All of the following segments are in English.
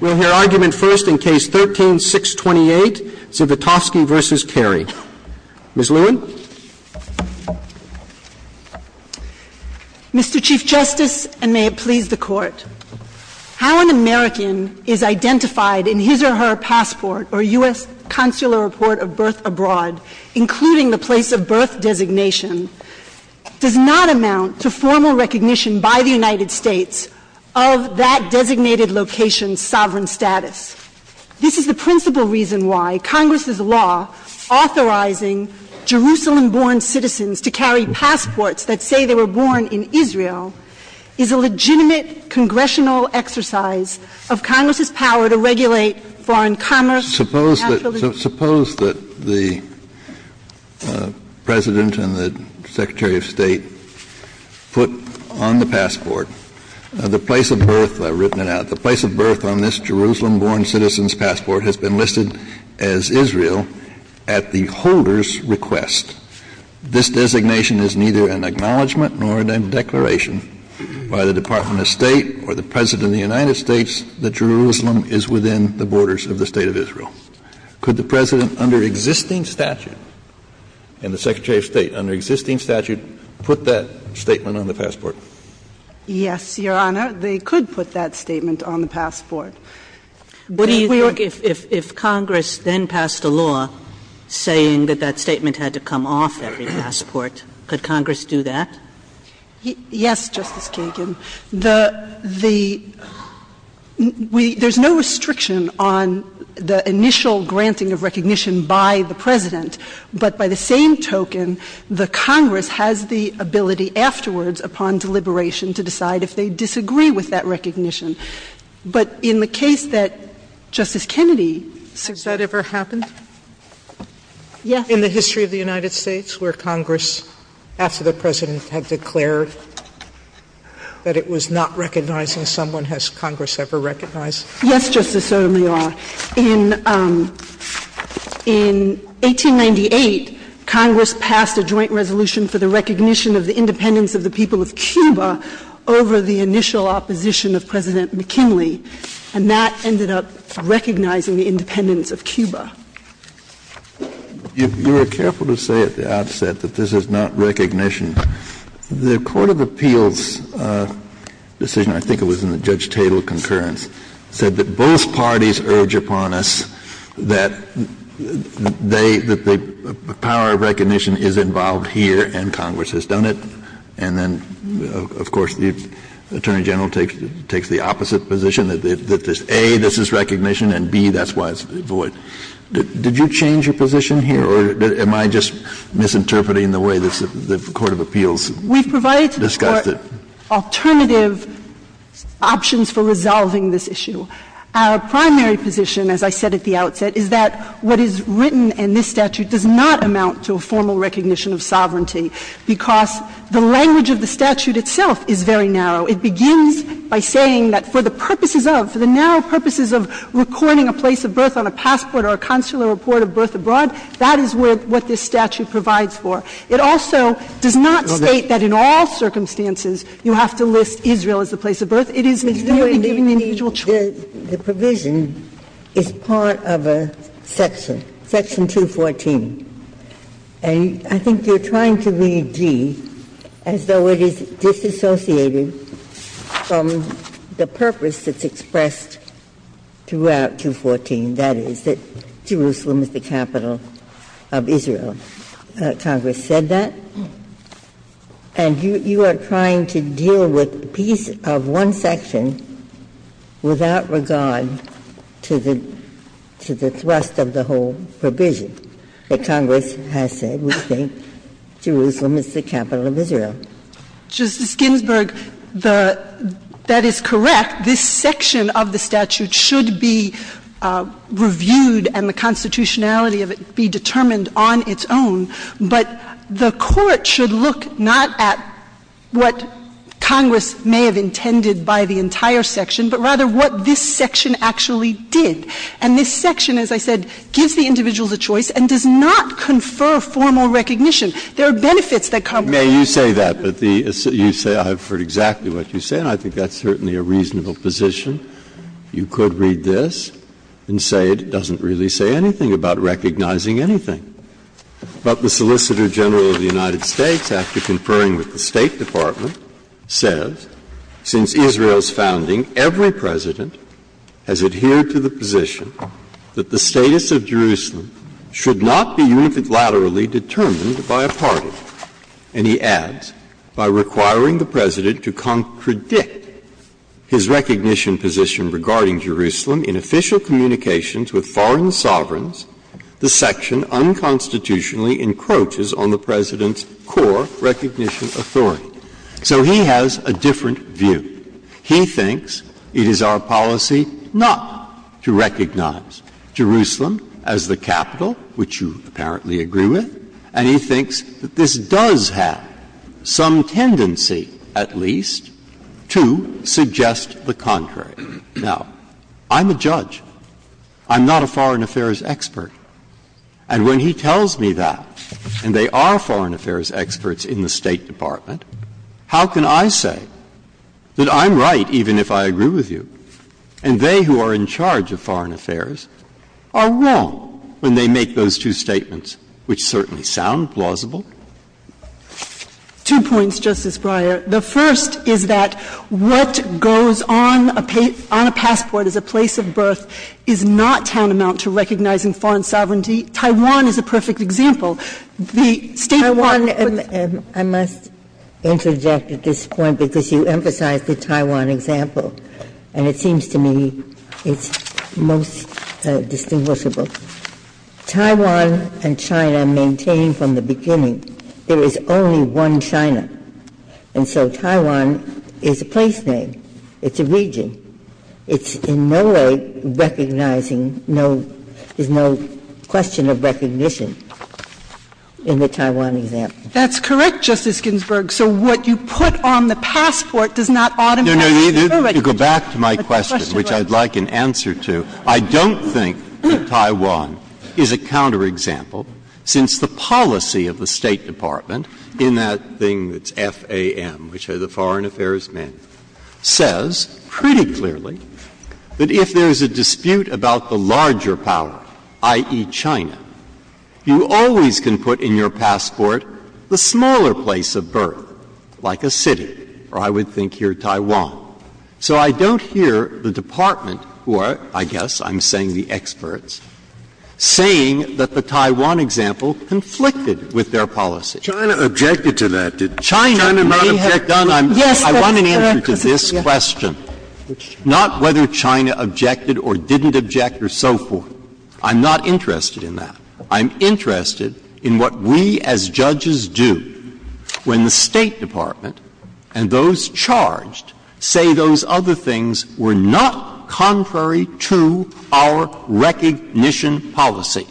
We'll hear argument first in Case 13-628, Zivitofsky v. Kerry. Ms. Lewin. Mr. Chief Justice, and may it please the Court, how an American is identified in his or her passport or U.S. consular report of birth abroad, including the place of birth designation, does not amount to formal recognition by the United States of that designated location's sovereign status. This is the principal reason why Congress's law authorizing Jerusalem-born citizens to carry passports that say they were born in Israel is a legitimate congressional exercise of Congress's power to regulate foreign commerce. Suppose that the President and the Secretary of State put on the passport the place of birth, written it out, the place of birth on this Jerusalem-born citizens passport has been listed as Israel at the holder's request. This designation is neither an acknowledgment nor a declaration by the Department of State or the President of the United States that Jerusalem is within the borders of the State of Israel. Could the President under existing statute and the Secretary of State under existing statute put that statement on the passport? Yes, Your Honor. They could put that statement on the passport. But if Congress then passed a law saying that that statement had to come off every passport, could Congress do that? Yes, Justice Kagan. The the we there's no restriction on the initial granting of recognition to a person who has the ability afterwards upon deliberation to decide if they disagree with that recognition. But in the case that Justice Kennedy said that ever happened in the history of the United States where Congress, after the President had declared that it was not recognizing someone, has Congress ever recognized? Yes, Justice Sotomayor. In 1898, Congress passed a joint resolution for the recognition of the independence of the people of Cuba over the initial opposition of President McKinley, and that ended up recognizing the independence of Cuba. You were careful to say at the outset that this is not recognition. The court of appeals decision, I think it was in the Judge Tatel concurrence, said that both parties urge upon us that they the power of recognition is involved here and Congress has done it, and then, of course, the Attorney General takes the opposite position, that A, this is recognition, and B, that's why it's void. Did you change your position here, or am I just misinterpreting the way the court of appeals discussed it? I'm just saying that the Court of Appeals has given alternative options for resolving this issue. Our primary position, as I said at the outset, is that what is written in this statute does not amount to a formal recognition of sovereignty, because the language of the statute itself is very narrow. It begins by saying that for the purposes of, for the narrow purposes of recording a place of birth on a passport or a consular report of birth abroad, that is what this statute provides for. It also does not state that in all circumstances you have to list Israel as the place of birth. It is merely giving the individual choice. The provision is part of a section, section 214, and I think you're trying to read as though it is disassociated from the purpose that's expressed throughout 214, that is, that Jerusalem is the capital of Israel. Congress said that, and you are trying to deal with a piece of one section without regard to the thrust of the whole provision that Congress has said. We think Jerusalem is the capital of Israel. Justice Ginsburg, the — that is correct. This section of the statute should be reviewed and the constitutionality of it be determined on its own, but the Court should look not at what Congress may have intended by the entire section, but rather what this section actually did. And this section, as I said, gives the individuals a choice and does not confer formal recognition. There are benefits that Congress has. Breyer. May you say that, but the — you say I've heard exactly what you say, and I think that's certainly a reasonable position. You could read this and say it doesn't really say anything about recognizing anything. But the Solicitor General of the United States, after conferring with the State Department, says, since Israel's founding, every President has adhered to the position that the status of Jerusalem should not be unilaterally determined by a party. And he adds, by requiring the President to contradict his recognition position regarding Jerusalem in official communications with foreign sovereigns, the section unconstitutionally encroaches on the President's core recognition authority. So he has a different view. He thinks it is our policy not to recognize Jerusalem as the capital, which you apparently agree with, and he thinks that this does have some tendency, at least, to suggest the contrary. Now, I'm a judge. I'm not a foreign affairs expert. And when he tells me that, and they are foreign affairs experts in the State Department, and they are not, how can I say that I'm right, even if I agree with you, and they who are in charge of foreign affairs are wrong when they make those two statements, which certainly sound plausible? Two points, Justice Breyer. The first is that what goes on a passport as a place of birth is not town to mount to recognizing foreign sovereignty. Taiwan is a perfect example. And I'm going to interject at this point because you emphasize the Taiwan example, and it seems to me it's most distinguishable. Taiwan and China maintain from the beginning there is only one China, and so Taiwan is a place name, it's a region, it's in no way recognizing, no, there's no question of recognition in the Taiwan example. That's correct, Justice Ginsburg. So what you put on the passport does not automatically recognize. Go back to my question, which I'd like an answer to. I don't think that Taiwan is a counterexample, since the policy of the State Department in that thing that's FAM, which is the Foreign Affairs Manual, says pretty clearly that if there is a dispute about the larger power, i.e., China, you always can put in your passport the smaller place of birth, like a city, or I would think here Taiwan. So I don't hear the Department, who are, I guess I'm saying the experts, saying that the Taiwan example conflicted with their policy. Scalia. China objected to that, didn't it? China may have done. I want an answer to this question, not whether China objected or didn't object or so forth. I'm not interested in that. I'm interested in what we as judges do when the State Department and those charged say those other things were not contrary to our recognition policy.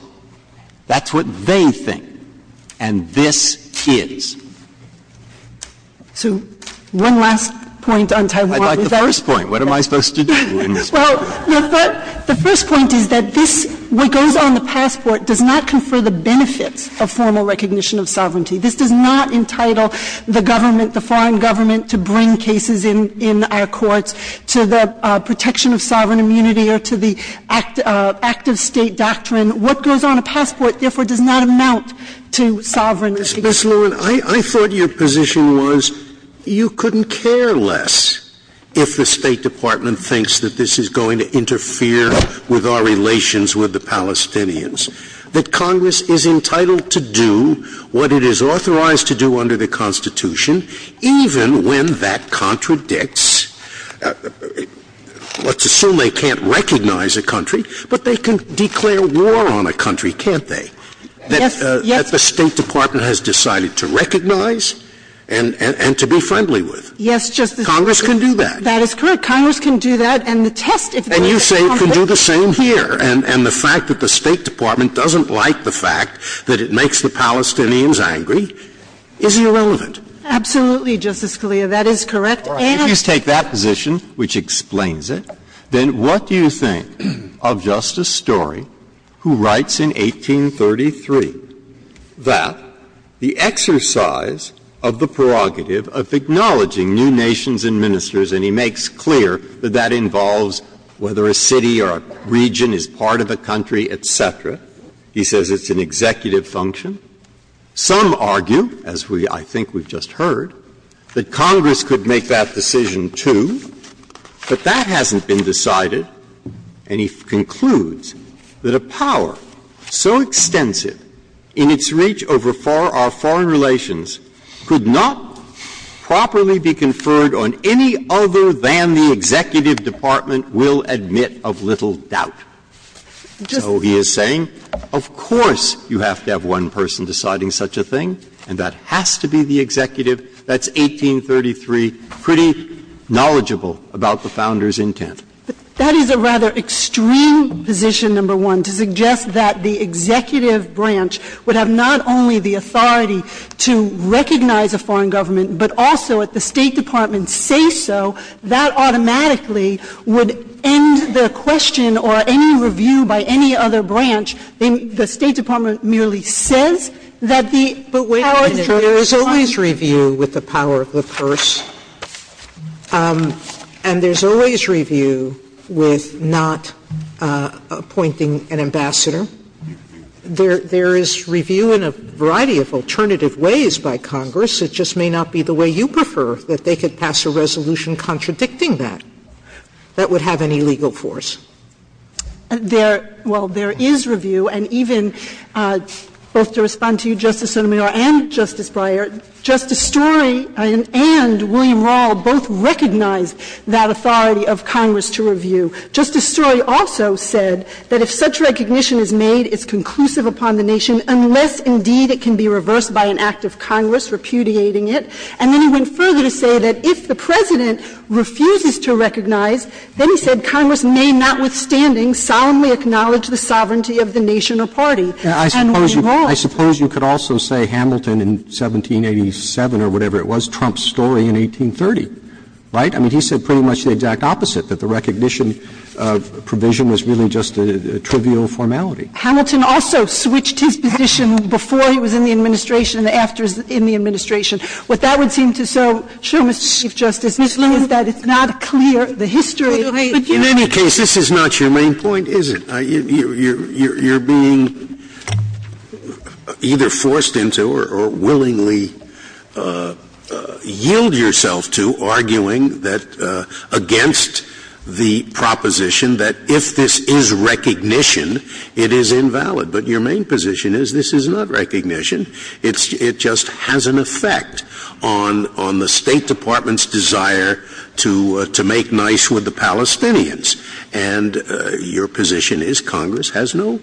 That's what they think, and this is. So one last point on Taiwan. I'd like the first point. What am I supposed to do in response? Well, the first point is that this, what goes on the passport, does not confer the benefits of formal recognition of sovereignty. This does not entitle the government, the foreign government, to bring cases in our courts to the protection of sovereign immunity or to the act of State doctrine. What goes on a passport, therefore, does not amount to sovereign immunity. Sotomayor, I thought your position was you couldn't care less if the State Department thinks that this is going to interfere with our relations with the Palestinians, that Congress is entitled to do what it is authorized to do under the Constitution even when that contradicts. Let's assume they can't recognize a country, but they can declare war on a country, can't they? Yes, yes. That the State Department has decided to recognize and to be friendly with. Yes, Justice Scalia. Congress can do that. That is correct. Congress can do that, and the test if there is a conflict. And you say you can do the same here, and the fact that the State Department doesn't like the fact that it makes the Palestinians angry is irrelevant. Absolutely, Justice Scalia. That is correct. And if you take that position, which explains it, then what do you think of Justice Story, who writes in 1833 that the exercise of the prerogative of acknowledging new nations and ministers, and he makes clear that that involves whether a city or a region is part of a country, et cetera. He says it's an executive function. Some argue, as we – I think we've just heard, that Congress could make that decision, too. But that hasn't been decided, and he concludes that a power so extensive in its reach over our foreign relations could not properly be conferred on any other than the executive department will admit of little doubt. So he is saying, of course, you have to have one person deciding such a thing, and that has to be the executive. That's 1833, pretty knowledgeable about the Founder's intent. That is a rather extreme position, number one, to suggest that the executive branch would have not only the authority to recognize a foreign government, but also, if the State Department says so, that automatically would end the question or any review by any other branch. The State Department merely says that the power is true. SOTOMAYOR There is always review with the power of the purse, and there's always review with not appointing an ambassador. SOTOMAYOR There is review in a variety of alternative ways by Congress. It just may not be the way you prefer, that they could pass a resolution contradicting that. That would have an illegal force. There – well, there is review, and even, both to respond to you, Justice Sotomayor and Justice Breyer, Justice Story and William Rall both recognized that authority of Congress to review. Justice Story also said that if such recognition is made, it's conclusive upon the nation unless, indeed, it can be reversed by an act of Congress repudiating it. And then he went further to say that if the President refuses to recognize, then, he said, Congress may notwithstanding solemnly acknowledge the sovereignty of the nation or party. And William Rall – Roberts, I suppose you could also say Hamilton in 1787 or whatever it was, Trump's story in 1830, right? I mean, he said pretty much the exact opposite, that the recognition of provision was really just a trivial formality. Sotomayor Hamilton also switched his position before he was in the administration and after he was in the administration. What that would seem to show, Mr. Chief Justice, is that it's not clear the history of the United States. Scalia In any case, this is not your main point, is it? You're being either forced into or willingly yield yourself to arguing that – against the proposition that if this is recognition, it is invalid. But your main position is this is not recognition. It just has an effect on the State Department's desire to make nice with the Palestinians. And your position is Congress has no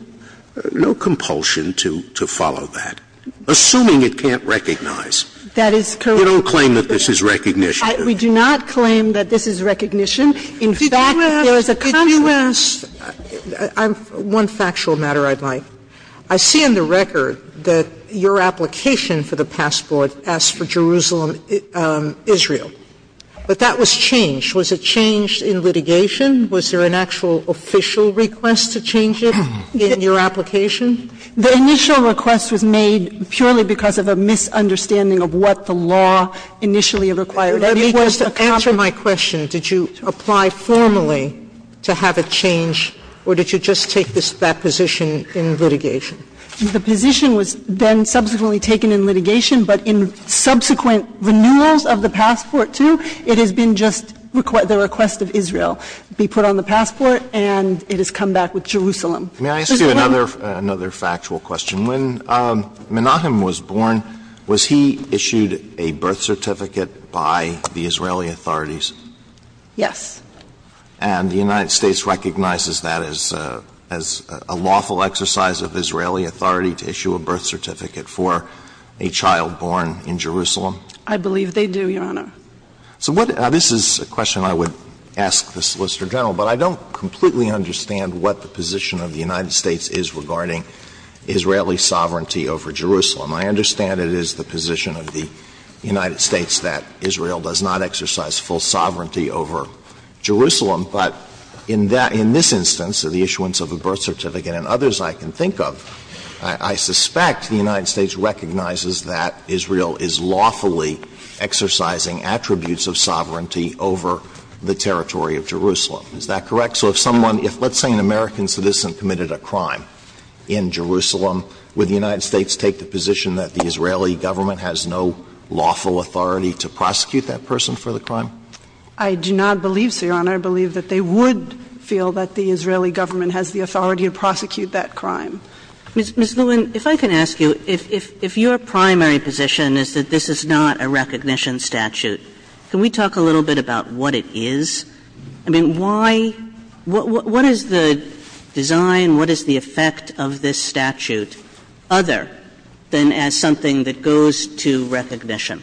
compulsion to follow that, assuming it can't recognize. We don't claim that this is recognition. We do not claim that this is recognition. In fact, there is a conflict. Sotomayor One factual matter I'd like. I see in the record that your application for the passport asks for Jerusalem, Israel. But that was changed. Was it changed in litigation? Was there an actual official request to change it in your application? The initial request was made purely because of a misunderstanding of what the law initially required. Sotomayor Let me just answer my question. Did you apply formally to have it changed, or did you just take this – that position in litigation? The position was then subsequently taken in litigation, but in subsequent renewals of the passport, too, it has been just the request of Israel, be put on the passport, and it has come back with Jerusalem. Alito May I ask you another factual question? When Menachem was born, was he issued a birth certificate by the Israeli authorities? Yes. And the United States recognizes that as a lawful exercise of Israeli authority to issue a birth certificate for a child born in Jerusalem? I believe they do, Your Honor. So what – this is a question I would ask the Solicitor General, but I don't completely understand what the position of the United States is regarding Israeli sovereignty over Jerusalem. I understand it is the position of the United States that Israel does not exercise full sovereignty over Jerusalem, but in that – in this instance, the issuance of a birth certificate and others I can think of, I suspect the United States recognizes that Israel is lawfully exercising attributes of sovereignty over the territory of Jerusalem. Is that correct? So if someone – if, let's say, an American citizen committed a crime in Jerusalem, would the United States take the position that the Israeli government has no lawful authority to prosecute that person for the crime? I do not believe so, Your Honor. I believe that they would feel that the Israeli government has the authority to prosecute that crime. Ms. Lewin, if I can ask you, if your primary position is that this is not a recognition statute, can we talk a little bit about what it is? I mean, why – what is the design, what is the effect of this statute other than as something that goes to recognition?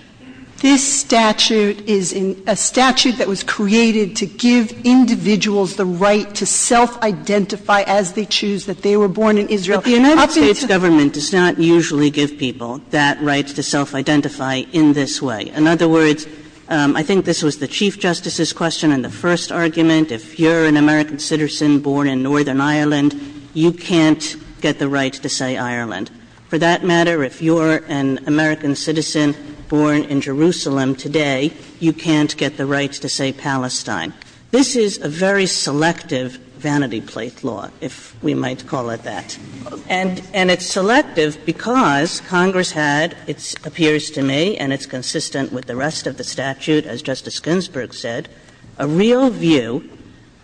This statute is a statute that was created to give individuals the right to self-identify as they choose that they were born in Israel. But the United States government does not usually give people that right to self-identify in this way. In other words, I think this was the Chief Justice's question in the first argument. If you're an American citizen born in Northern Ireland, you can't get the right to say Ireland. For that matter, if you're an American citizen born in Jerusalem today, you can't get the right to say Palestine. This is a very selective vanity plate law, if we might call it that. And it's selective because Congress had, it appears to me, and it's consistent with the rest of the statute, as Justice Ginsburg said, a real view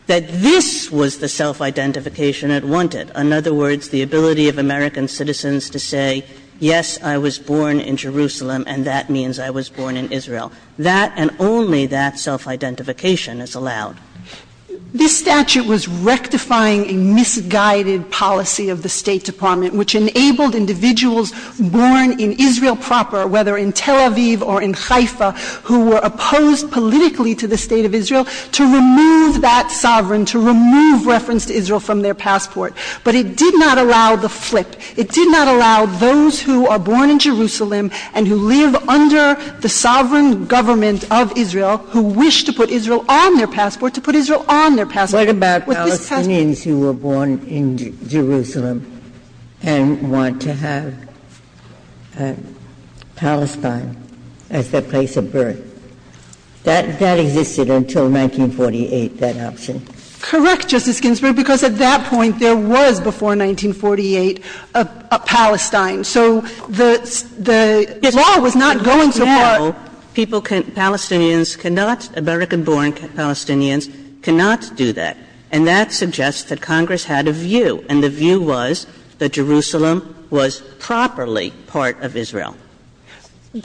that this was the self-identification it wanted. In other words, the ability of American citizens to say, yes, I was born in Jerusalem and that means I was born in Israel. That and only that self-identification is allowed. This statute was rectifying a misguided policy of the State Department which enabled individuals born in Israel proper, whether in Tel Aviv or in Haifa, who were opposed politically to the State of Israel, to remove that sovereign, to remove reference to Israel from their passport. But it did not allow the flip. It did not allow those who are born in Jerusalem and who live under the sovereign government of Israel, who wish to put Israel on their passport, to put Israel on their With this passport you can't do that. Ginsburg. What about Palestinians who were born in Jerusalem and want to have Palestine as their place of birth? That existed until 1948, that option. So the law was not going to allow them to have Palestine. So the law was not going to allow them to have Palestine. People can't do that. Palestinians cannot, American-born Palestinians cannot do that. And that suggests that Congress had a view. And the view was that Jerusalem was properly part of Israel.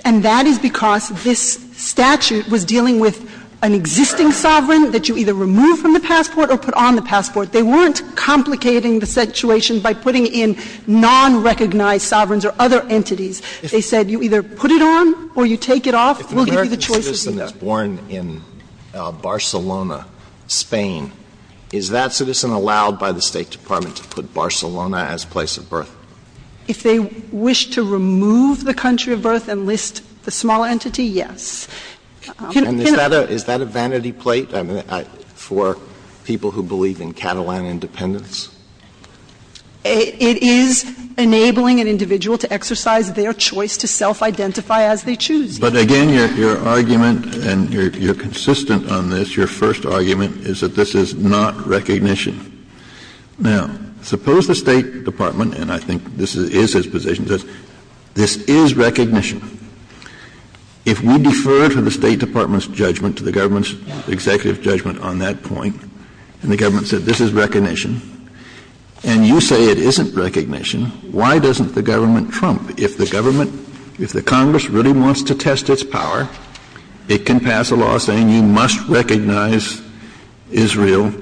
And that is because this statute was dealing with an existing sovereign that you either remove from the passport or put on the passport. They weren't complicating the situation by putting in non-recognized sovereigns or other entities. They said you either put it on or you take it off. We'll give you the choice to do that. If an American citizen is born in Barcelona, Spain, is that citizen allowed by the State Department to put Barcelona as place of birth? If they wish to remove the country of birth and list the small entity, yes. And is that a vanity plate for people who believe in Catalan independence? It is enabling an individual to exercise their choice to self-identify as they choose. But again, your argument, and you're consistent on this, your first argument is that this is not recognition. Now, suppose the State Department, and I think this is his position, says this is recognition. If we defer to the State Department's judgment, to the government's executive judgment on that point, and the government said this is recognition, and you say it isn't recognition, why doesn't the government trump? If the government, if the Congress really wants to test its power, it can pass a law saying you must recognize Israel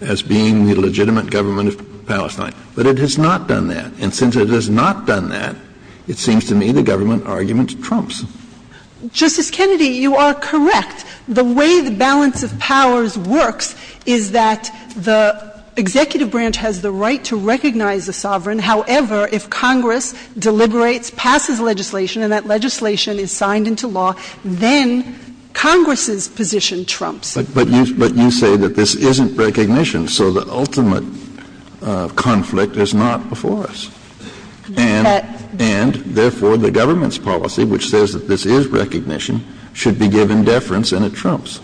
as being the legitimate government of Palestine. But it has not done that. And since it has not done that, it seems to me the government argument trumps. Justice Kennedy, you are correct. The way the balance of powers works is that the executive branch has the right to recognize the sovereign. However, if Congress deliberates, passes legislation, and that legislation is signed into law, then Congress's position trumps. But you say that this isn't recognition. So the ultimate conflict is not before us. And, therefore, the government's policy, which says that this is recognition, should be given deference, and it trumps.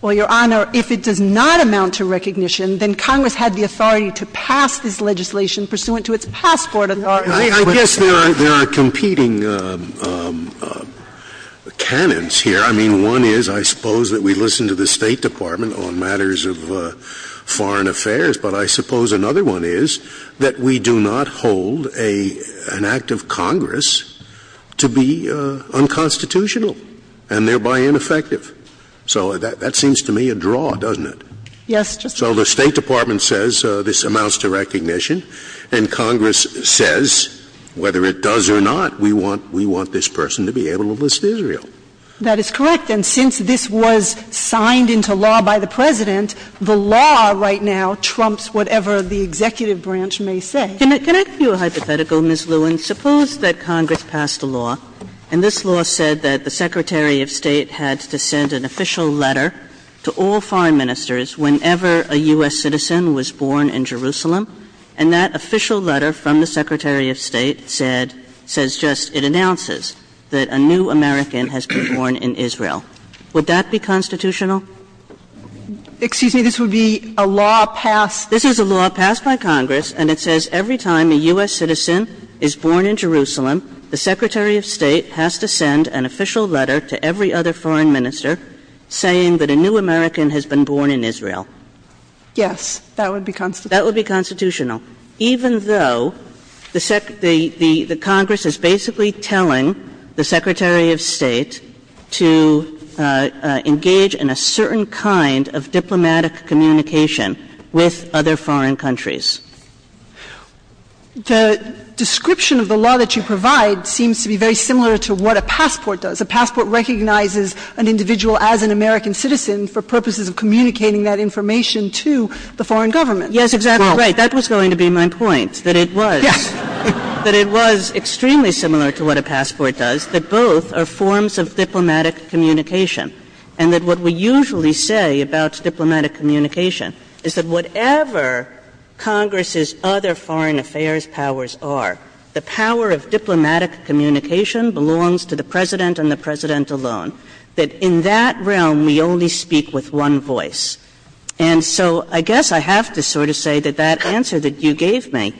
Well, Your Honor, if it does not amount to recognition, then Congress had the authority to pass this legislation pursuant to its passport authority. I guess there are competing canons here. I mean, one is, I suppose, that we listen to the State Department on matters of foreign affairs. But I suppose another one is that we do not hold an act of Congress to be unconstitutional and thereby ineffective. So that seems to me a draw, doesn't it? Yes, Justice Scalia. So the State Department says this amounts to recognition, and Congress says, whether it does or not, we want this person to be able to list Israel. That is correct. And since this was signed into law by the President, the law right now trumps whatever the executive branch may say. Can I give you a hypothetical, Ms. Lewin? Suppose that Congress passed a law, and this law said that the Secretary of State had to send an official letter to all foreign ministers whenever a U.S. citizen was born in Jerusalem. And that official letter from the Secretary of State said, says just, it announces that a new American has been born in Israel. Would that be constitutional? Excuse me. This would be a law passed. This is a law passed by Congress, and it says every time a U.S. citizen is born in Jerusalem, the Secretary of State has to send an official letter to every other foreign minister saying that a new American has been born in Israel. Yes. That would be constitutional. That would be constitutional. Even though the Congress is basically telling the Secretary of State to engage in a certain kind of diplomatic communication with other foreign countries. The description of the law that you provide seems to be very similar to what a passport does. A passport recognizes an individual as an American citizen for purposes of communicating that information to the foreign government. Yes, exactly right. That was going to be my point, that it was, that it was extremely similar to what a passport does, that both are forms of diplomatic communication, and that what we usually say about diplomatic communication is that whatever Congress's other foreign affairs powers are, the power of diplomatic communication belongs to the President and the President alone, that in that realm we only speak with one voice. And so I guess I have to sort of say that that answer that you gave me,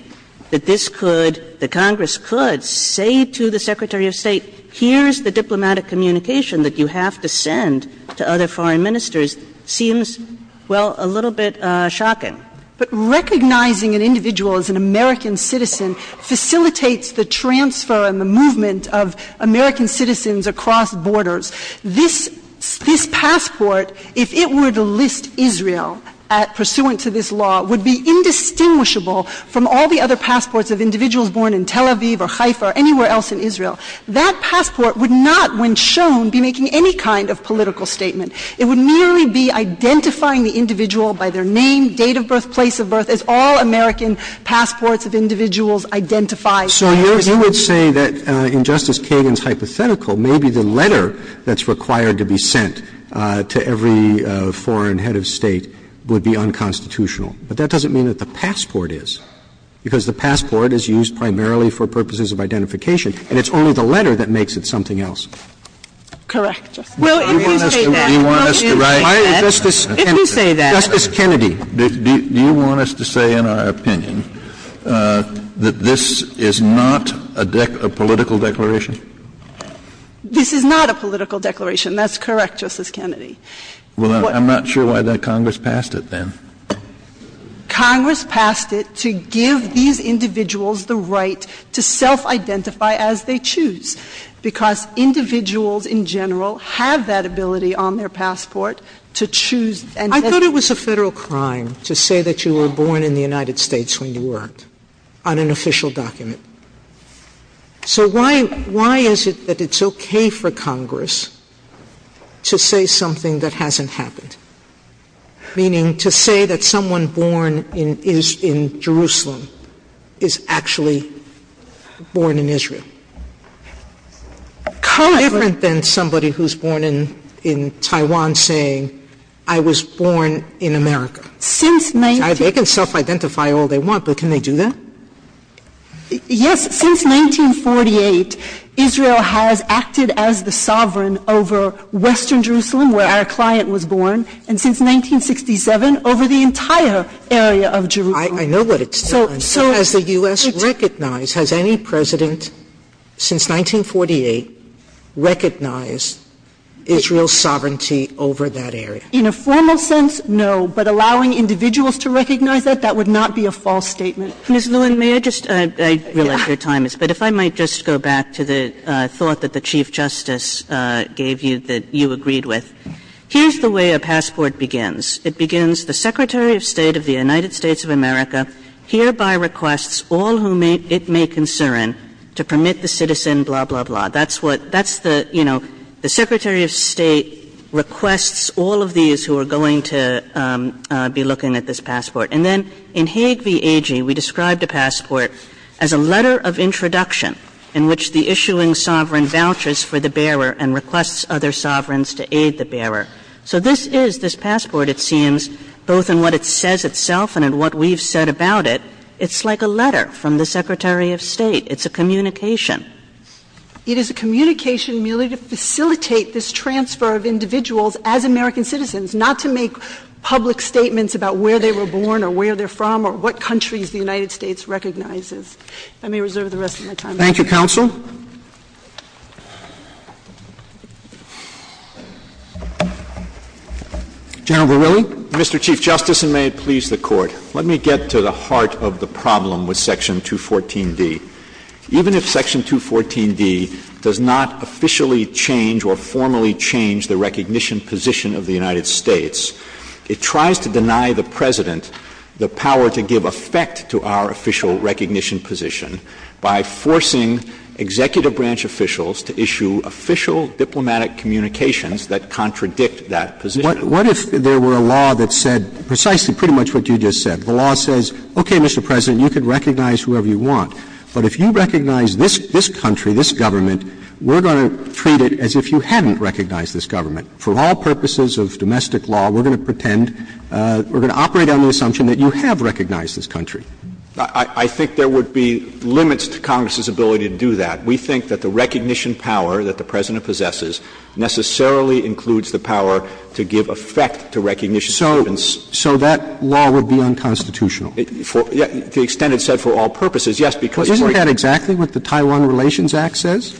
that this could, the Congress could say to the Secretary of State, here's the diplomatic communication that you have to send to other foreign ministers, seems, well, a little bit shocking. But recognizing an individual as an American citizen facilitates the transfer and the movement of American citizens across borders. This passport, if it were to list Israel pursuant to this law, would be indistinguishable from all the other passports of individuals born in Tel Aviv or Haifa or anywhere else in Israel. That passport would not, when shown, be making any kind of political statement. It would merely be identifying the individual by their name, date of birth, place of birth, as all American passports of individuals identify. So you would say that in Justice Kagan's hypothetical, maybe the letter that's required to be sent to every foreign head of State would be unconstitutional. But that doesn't mean that the passport is, because the passport is used primarily for purposes of identification, and it's only the letter that makes it something else. Correct. Well, if you say that, if you say that. Justice Kennedy. Do you want us to say in our opinion that this is not a political declaration? This is not a political declaration. That's correct, Justice Kennedy. Well, I'm not sure why that Congress passed it, then. Congress passed it to give these individuals the right to self-identify as they choose, because individuals in general have that ability on their passport to choose. I thought it was a Federal crime to say that you were born in the United States when you weren't, on an official document. So why is it that it's okay for Congress to say something that hasn't happened? Meaning to say that someone born in Jerusalem is actually born in Israel. Different than somebody who's born in Taiwan saying, I was born in America. Since 19 — They can self-identify all they want, but can they do that? Yes. Since 1948, Israel has acted as the sovereign over western Jerusalem, where our client was born, and since 1967, over the entire area of Jerusalem. I know what it's done. Has the U.S. recognized — has any President since 1948 recognized Israel's sovereignty over that area? In a formal sense, no, but allowing individuals to recognize that, that would not be a false statement. Ms. Lewin, may I just — I realize your time is — but if I might just go back to the thought that the Chief Justice gave you that you agreed with. Here's the way a passport begins. It begins, The Secretary of State of the United States of America hereby requests all who it may concern to permit the citizen blah, blah, blah. That's what — that's the — you know, the Secretary of State requests all of these who are going to be looking at this passport. And then in Hague v. Agee, we described a passport as a letter of introduction in which the issuing sovereign vouchers for the bearer and requests other sovereigns to aid the bearer. So this is — this passport, it seems, both in what it says itself and in what we've said about it, it's like a letter from the Secretary of State. It's a communication. It is a communication merely to facilitate this transfer of individuals as American citizens, not to make public statements about where they were born or where they're from or what countries the United States recognizes. Thank you, Counsel. General Verrilli. Mr. Chief Justice, and may it please the Court, let me get to the heart of the problem with Section 214d. Even if Section 214d does not officially change or formally change the recognition position of the United States, it tries to deny the President the power to give effect to our official recognition position by forcing executive branch officials to issue official diplomatic communications that contradict that position. What if there were a law that said precisely pretty much what you just said? The law says, okay, Mr. President, you can recognize whoever you want, but if you recognize this country, this government, we're going to treat it as if you hadn't recognized this government. For all purposes of domestic law, we're going to pretend, we're going to operate on the assumption that you have recognized this country. I think there would be limits to Congress's ability to do that. We think that the recognition power that the President possesses necessarily includes the power to give effect to recognition servants. So that law would be unconstitutional? To the extent it's said for all purposes, yes, because it's right. Isn't that exactly what the Taiwan Relations Act says?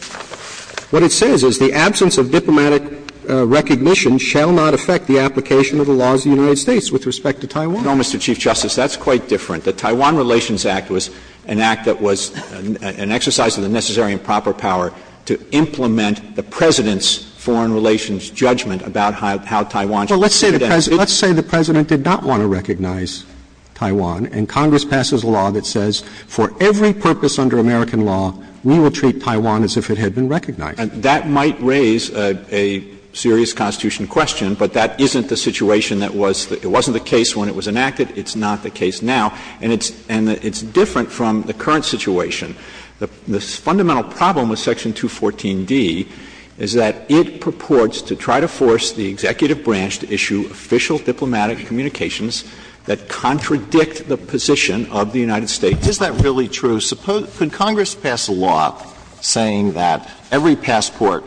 What it says is the absence of diplomatic recognition shall not affect the application of the laws of the United States with respect to Taiwan. No, Mr. Chief Justice. That's quite different. The Taiwan Relations Act was an act that was an exercise of the necessary and proper power to implement the President's foreign relations judgment about how Taiwan should be identified. Well, let's say the President did not want to recognize Taiwan, and Congress passes a law that says for every purpose under American law, we will treat Taiwan as if it had been recognized. That might raise a serious Constitution question, but that isn't the situation that was the – it wasn't the case when it was enacted, it's not the case now. And it's different from the current situation. The fundamental problem with Section 214d is that it purports to try to force the executive branch to issue official diplomatic communications that contradict the position of the United States. Is that really true? Could Congress pass a law saying that every passport,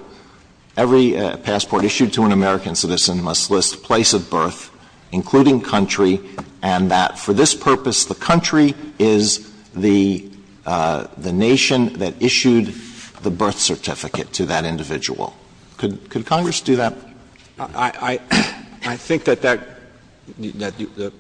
every passport issued to an American citizen must list place of birth, including country, and that for this purpose, the country is the nation that issued the birth certificate to that individual? Could Congress do that? I think that that – that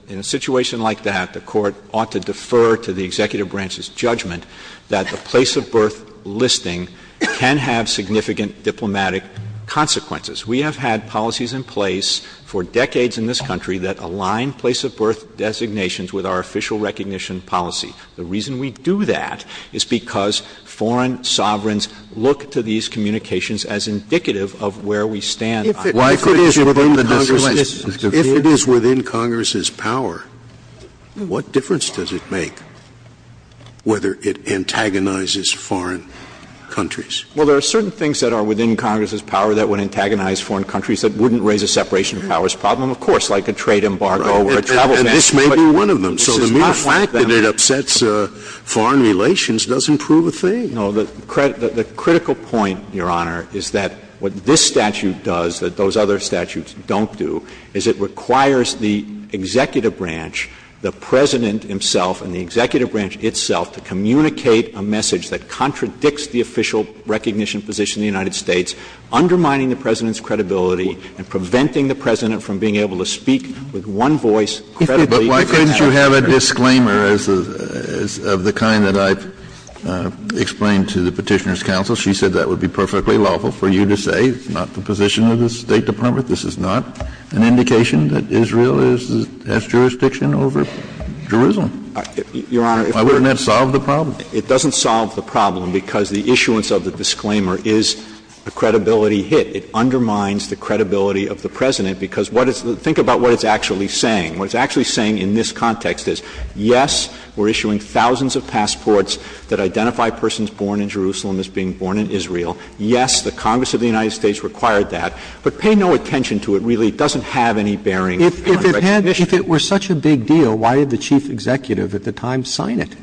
in a situation like that, the Court ought to defer to the executive branch's judgment that the place of birth listing can have significant diplomatic consequences. We have had policies in place for decades in this country that align place of birth designations with our official recognition policy. The reason we do that is because foreign sovereigns look to these communications as indicative of where we stand on this issue. If it is within Congress's power, what difference does it make whether it antagonizes foreign countries? Well, there are certain things that are within Congress's power that would antagonize foreign countries that wouldn't raise a separation of powers problem, of course, like a trade embargo or a travel ban. And this may be one of them. So the mere fact that it upsets foreign relations doesn't prove a thing. No. The critical point, Your Honor, is that what this statute does that those other statutes don't do is it requires the executive branch, the President himself and the executive branch itself to communicate a message that contradicts the official recognition position of the United States, undermining the President's credibility and preventing the President from being able to speak with one voice. But why couldn't you have a disclaimer of the kind that I've explained to the Petitioner's counsel? She said that would be perfectly lawful for you to say. It's not the position of the State Department. This is not an indication that Israel has jurisdiction over Jerusalem. Why wouldn't that solve the problem? It doesn't solve the problem, because the issuance of the disclaimer is a credibility hit. It undermines the credibility of the President, because what it's – think about what it's actually saying. What it's actually saying in this context is, yes, we're issuing thousands of passports that identify persons born in Jerusalem as being born in Israel. Yes, the Congress of the United States required that. Really, it doesn't have any bearing on the recognition. If it had – if it were such a big deal, why did the Chief Executive at the time sign it?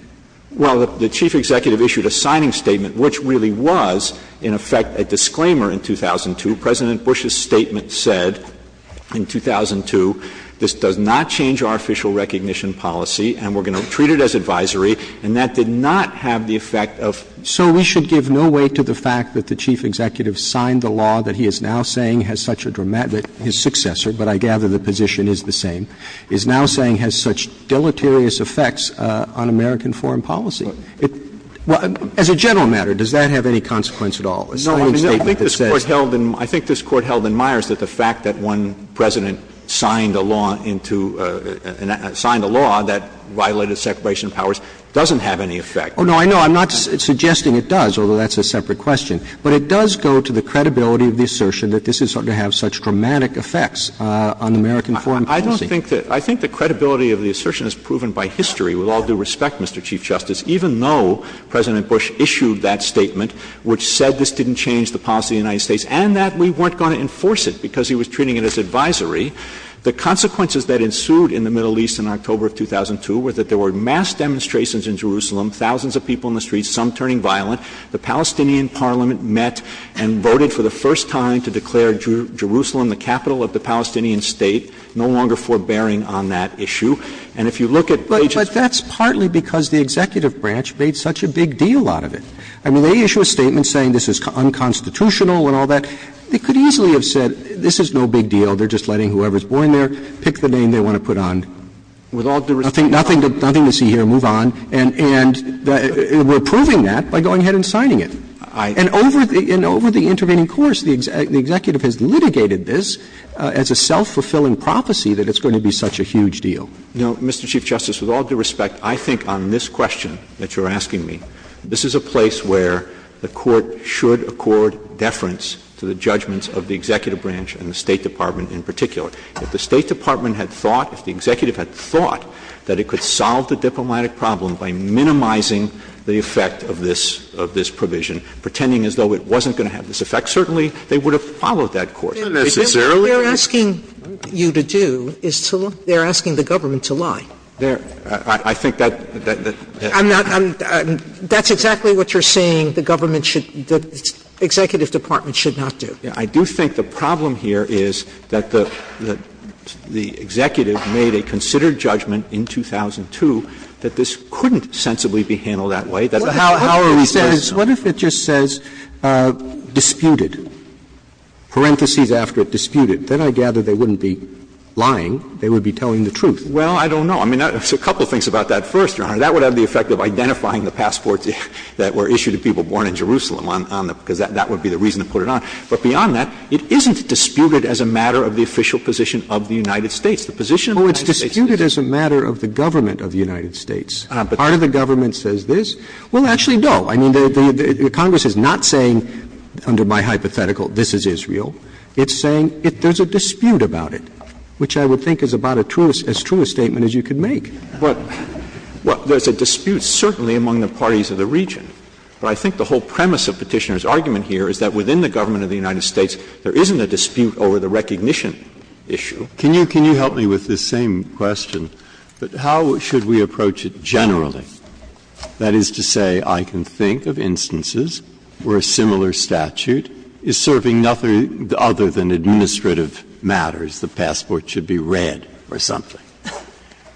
Well, the Chief Executive issued a signing statement, which really was, in effect, a disclaimer in 2002. President Bush's statement said in 2002, this does not change our official recognition policy, and we're going to treat it as advisory. And that did not have the effect of – So we should give no weight to the fact that the Chief Executive signed the law that he is now saying has such a dramatic – that his successor, but I gather the position is the same, is now saying has such deleterious effects on American foreign policy. As a general matter, does that have any consequence at all? A signing statement that says – No, I mean, I think this Court held in – I think this Court held in Myers that the fact that one President signed a law into – signed a law that violated separation of powers doesn't have any effect. Oh, no, I know. I'm not suggesting it does, although that's a separate question. But it does go to the credibility of the assertion that this is going to have such dramatic effects on American foreign policy. I don't think that – I think the credibility of the assertion is proven by history with all due respect, Mr. Chief Justice. Even though President Bush issued that statement, which said this didn't change the policy of the United States and that we weren't going to enforce it because he was treating it as advisory, the consequences that ensued in the Middle East in October of 2002 were that there were mass demonstrations in Jerusalem, thousands of people in the streets, some turning violent. The Palestinian parliament met and voted for the first time to declare Jerusalem the capital of the Palestinian State, no longer forbearing on that issue. And if you look at pages – But that's partly because the executive branch made such a big deal out of it. I mean, they issue a statement saying this is unconstitutional and all that. They could easily have said this is no big deal, they're just letting whoever's born there pick the name they want to put on. With all due respect – Nothing to see here. Move on. And we're proving that by going ahead and signing it. And over the intervening course, the executive has litigated this as a self-fulfilling prophecy that it's going to be such a huge deal. No, Mr. Chief Justice, with all due respect, I think on this question that you're asking me, this is a place where the Court should accord deference to the judgments of the executive branch and the State Department in particular. If the State Department had thought, if the executive had thought that it could solve the diplomatic problem by minimizing the effect of this provision, pretending as though it wasn't going to have this effect, certainly they would have followed that course. They're asking you to do is to – they're asking the government to lie. I think that – I'm not – that's exactly what you're saying the government should – the executive department should not do. I do think the problem here is that the executive made a considered judgment in 2002 that this couldn't sensibly be handled that way. How are we supposed to know? What if it just says disputed, parentheses after it, disputed? Then I gather they wouldn't be lying. They would be telling the truth. Well, I don't know. I mean, there's a couple of things about that first, Your Honor. That would have the effect of identifying the passports that were issued to people born in Jerusalem on the – because that would be the reason to put it on. But beyond that, it isn't disputed as a matter of the official position of the United States. The position of the United States is this. Oh, it's disputed as a matter of the government of the United States. Part of the government says this. Well, actually, no. I mean, the Congress is not saying under my hypothetical, this is Israel. It's saying there's a dispute about it, which I would think is about as true a statement as you could make. Well, there's a dispute certainly among the parties of the region. But I think the whole premise of Petitioner's argument here is that within the government of the United States, there isn't a dispute over the recognition issue. Can you help me with this same question? How should we approach it generally? That is to say, I can think of instances where a similar statute is serving nothing other than administrative matters. The passport should be read or something.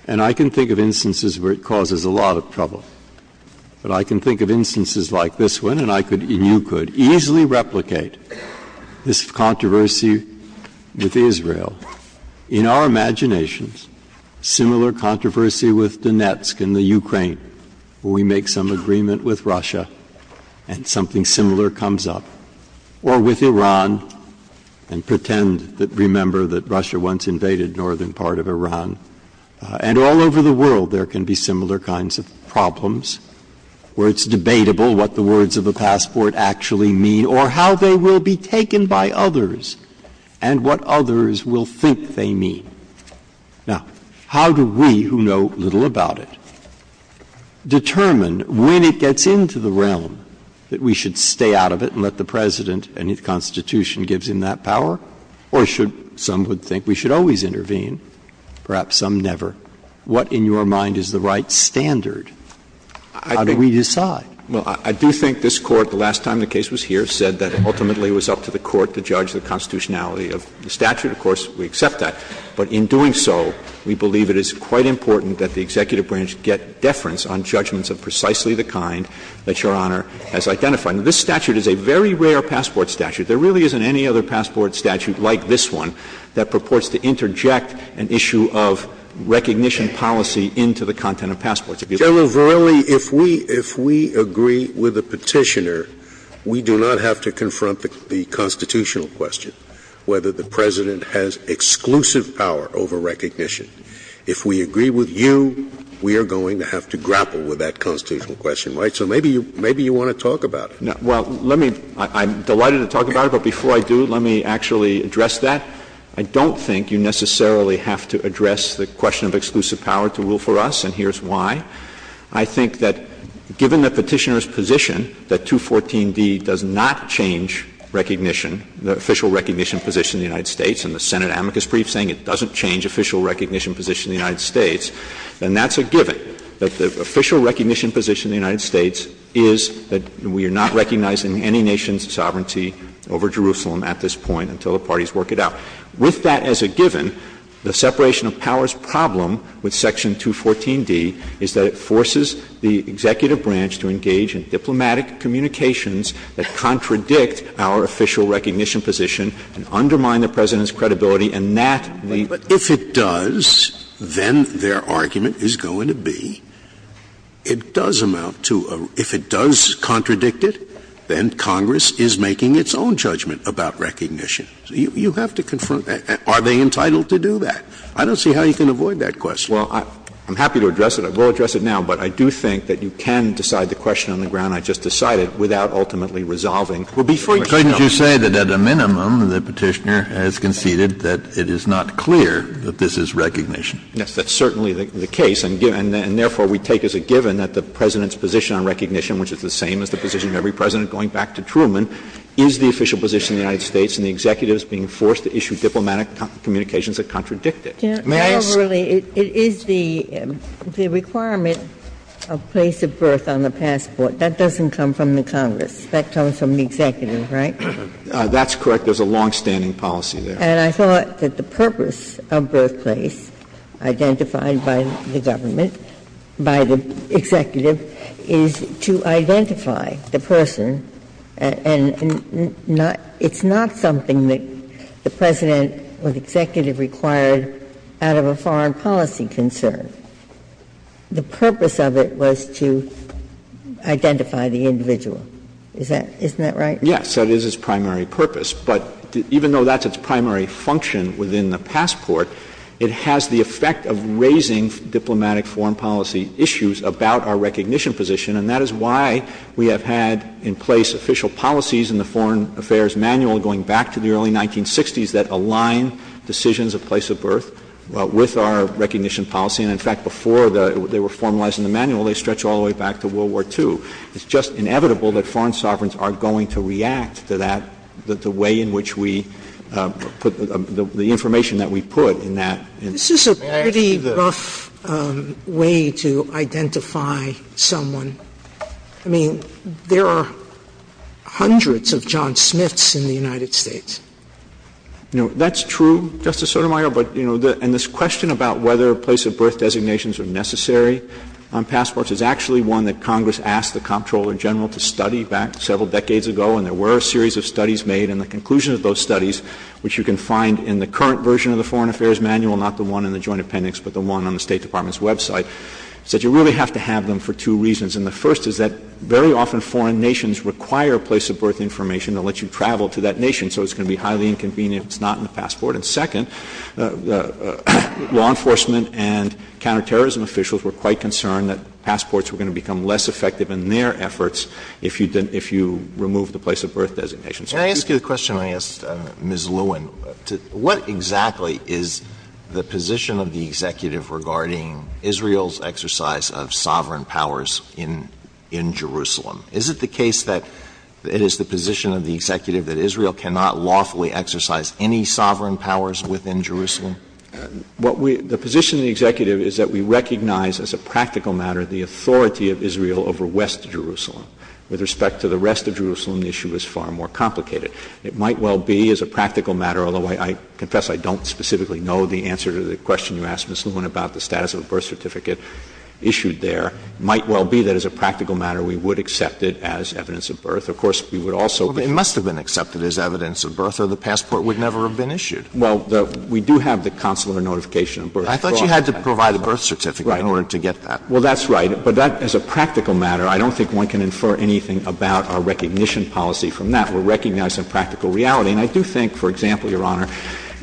And I can think of instances where it causes a lot of trouble. But I can think of instances like this one, and I could, and you could, easily replicate this controversy with Israel. In our imaginations, similar controversy with Donetsk and the Ukraine, where we make some agreement with Russia and something similar comes up. Or with Iran, and pretend that we remember that Russia once invaded northern part of Iran. And all over the world, there can be similar kinds of problems where it's debatable what the words of the passport actually mean or how they will be taken by others and what others will think they mean. Now, how do we, who know little about it, determine when it gets into the realm that we should stay out of it and let the President and his constitution gives him that power, or should some would think we should always intervene, perhaps some never? What, in your mind, is the right standard? How do we decide? Verrilli, I do think this Court, the last time the case was here, said that ultimately it was up to the Court to judge the constitutionality of the statute. Of course, we accept that. But in doing so, we believe it is quite important that the executive branch get deference on judgments of precisely the kind that Your Honor has identified. Now, this statute is a very rare passport statute. There really isn't any other passport statute like this one that purports to interject an issue of recognition policy into the content of passports. Scalia. General Verrilli, if we agree with the Petitioner, we do not have to confront the constitutional question, whether the President has exclusive power over recognition. If we agree with you, we are going to have to grapple with that constitutional question, right? So maybe you want to talk about it. Well, let me — I'm delighted to talk about it. But before I do, let me actually address that. I don't think you necessarily have to address the question of exclusive power to rule for us, and here's why. I think that given the Petitioner's position that 214d does not change recognition, the official recognition position in the United States, and the Senate amicus brief saying it doesn't change official recognition position in the United States, then that's a given, that the official recognition position in the United States is that we are not recognizing any nation's sovereignty over Jerusalem at this point until the parties work it out. With that as a given, the separation of powers problem with section 214d is that it forces the executive branch to engage in diplomatic communications that contradict our official recognition position and undermine the President's credibility and that the — And if it does, then their argument is going to be it does amount to a — if it does contradict it, then Congress is making its own judgment about recognition. You have to confront that. Are they entitled to do that? I don't see how you can avoid that question. Well, I'm happy to address it. I will address it now. But I do think that you can decide the question on the ground I just decided without ultimately resolving the question. Well, before you go, could you say that at a minimum the Petitioner has conceded that it is not clear that this is recognition? Yes, that's certainly the case. And therefore, we take as a given that the President's position on recognition, which is the same as the position of every President going back to Truman, is the official position in the United States and the executive is being forced to issue diplomatic communications that contradict it. May I ask — You know, really, it is the requirement of place of birth on the passport. That doesn't come from the Congress. That comes from the executive, right? That's correct. There's a longstanding policy there. And I thought that the purpose of birthplace, identified by the government, by the executive, is to identify the person and not — it's not something that the President or the executive required out of a foreign policy concern. The purpose of it was to identify the individual. Isn't that right? Yes. That is its primary purpose. But even though that's its primary function within the passport, it has the effect of raising diplomatic foreign policy issues about our recognition position. And that is why we have had in place official policies in the Foreign Affairs Manual going back to the early 1960s that align decisions of place of birth with our recognition policy. And in fact, before they were formalized in the manual, they stretched all the way back to World War II. It's just inevitable that foreign sovereigns are going to react to that, the way in which we put the information that we put in that. This is a pretty rough way to identify someone. I mean, there are hundreds of John Smiths in the United States. No, that's true, Justice Sotomayor. But, you know, and this question about whether place of birth designations are necessary on passports is actually one that Congress asked the Comptroller General to study back several decades ago. And there were a series of studies made. And the conclusion of those studies, which you can find in the current version of the Foreign Affairs Manual, not the one in the Joint Appendix, but the one on the State Department's website, is that you really have to have them for two reasons. And the first is that very often foreign nations require place of birth information to let you travel to that nation. So it's going to be highly inconvenient if it's not in the passport. And second, law enforcement and counterterrorism officials were quite concerned that passports were going to become less effective in their efforts if you remove the place of birth designation. So if you could do that. Alitoson Can I ask you the question I asked Ms. Lewin? What exactly is the position of the Executive regarding Israel's exercise of sovereign powers in Jerusalem? Is it the case that it is the position of the Executive that Israel cannot lawfully exercise any sovereign powers within Jerusalem? Verrilli, The position of the Executive is that we recognize as a practical matter the authority of Israel over West Jerusalem. With respect to the rest of Jerusalem, the issue is far more complicated. It might well be as a practical matter, although I confess I don't specifically know the answer to the question you asked, Ms. Lewin, about the status of a birth certificate issued there. It might well be that as a practical matter we would accept it as evidence of birth. Of course, we would also be It must have been accepted as evidence of birth. So the passport would never have been issued. Well, we do have the consular notification of birth. I thought you had to provide a birth certificate in order to get that. Well, that's right. But that, as a practical matter, I don't think one can infer anything about our recognition policy from that. We're recognizing practical reality. And I do think, for example, Your Honor,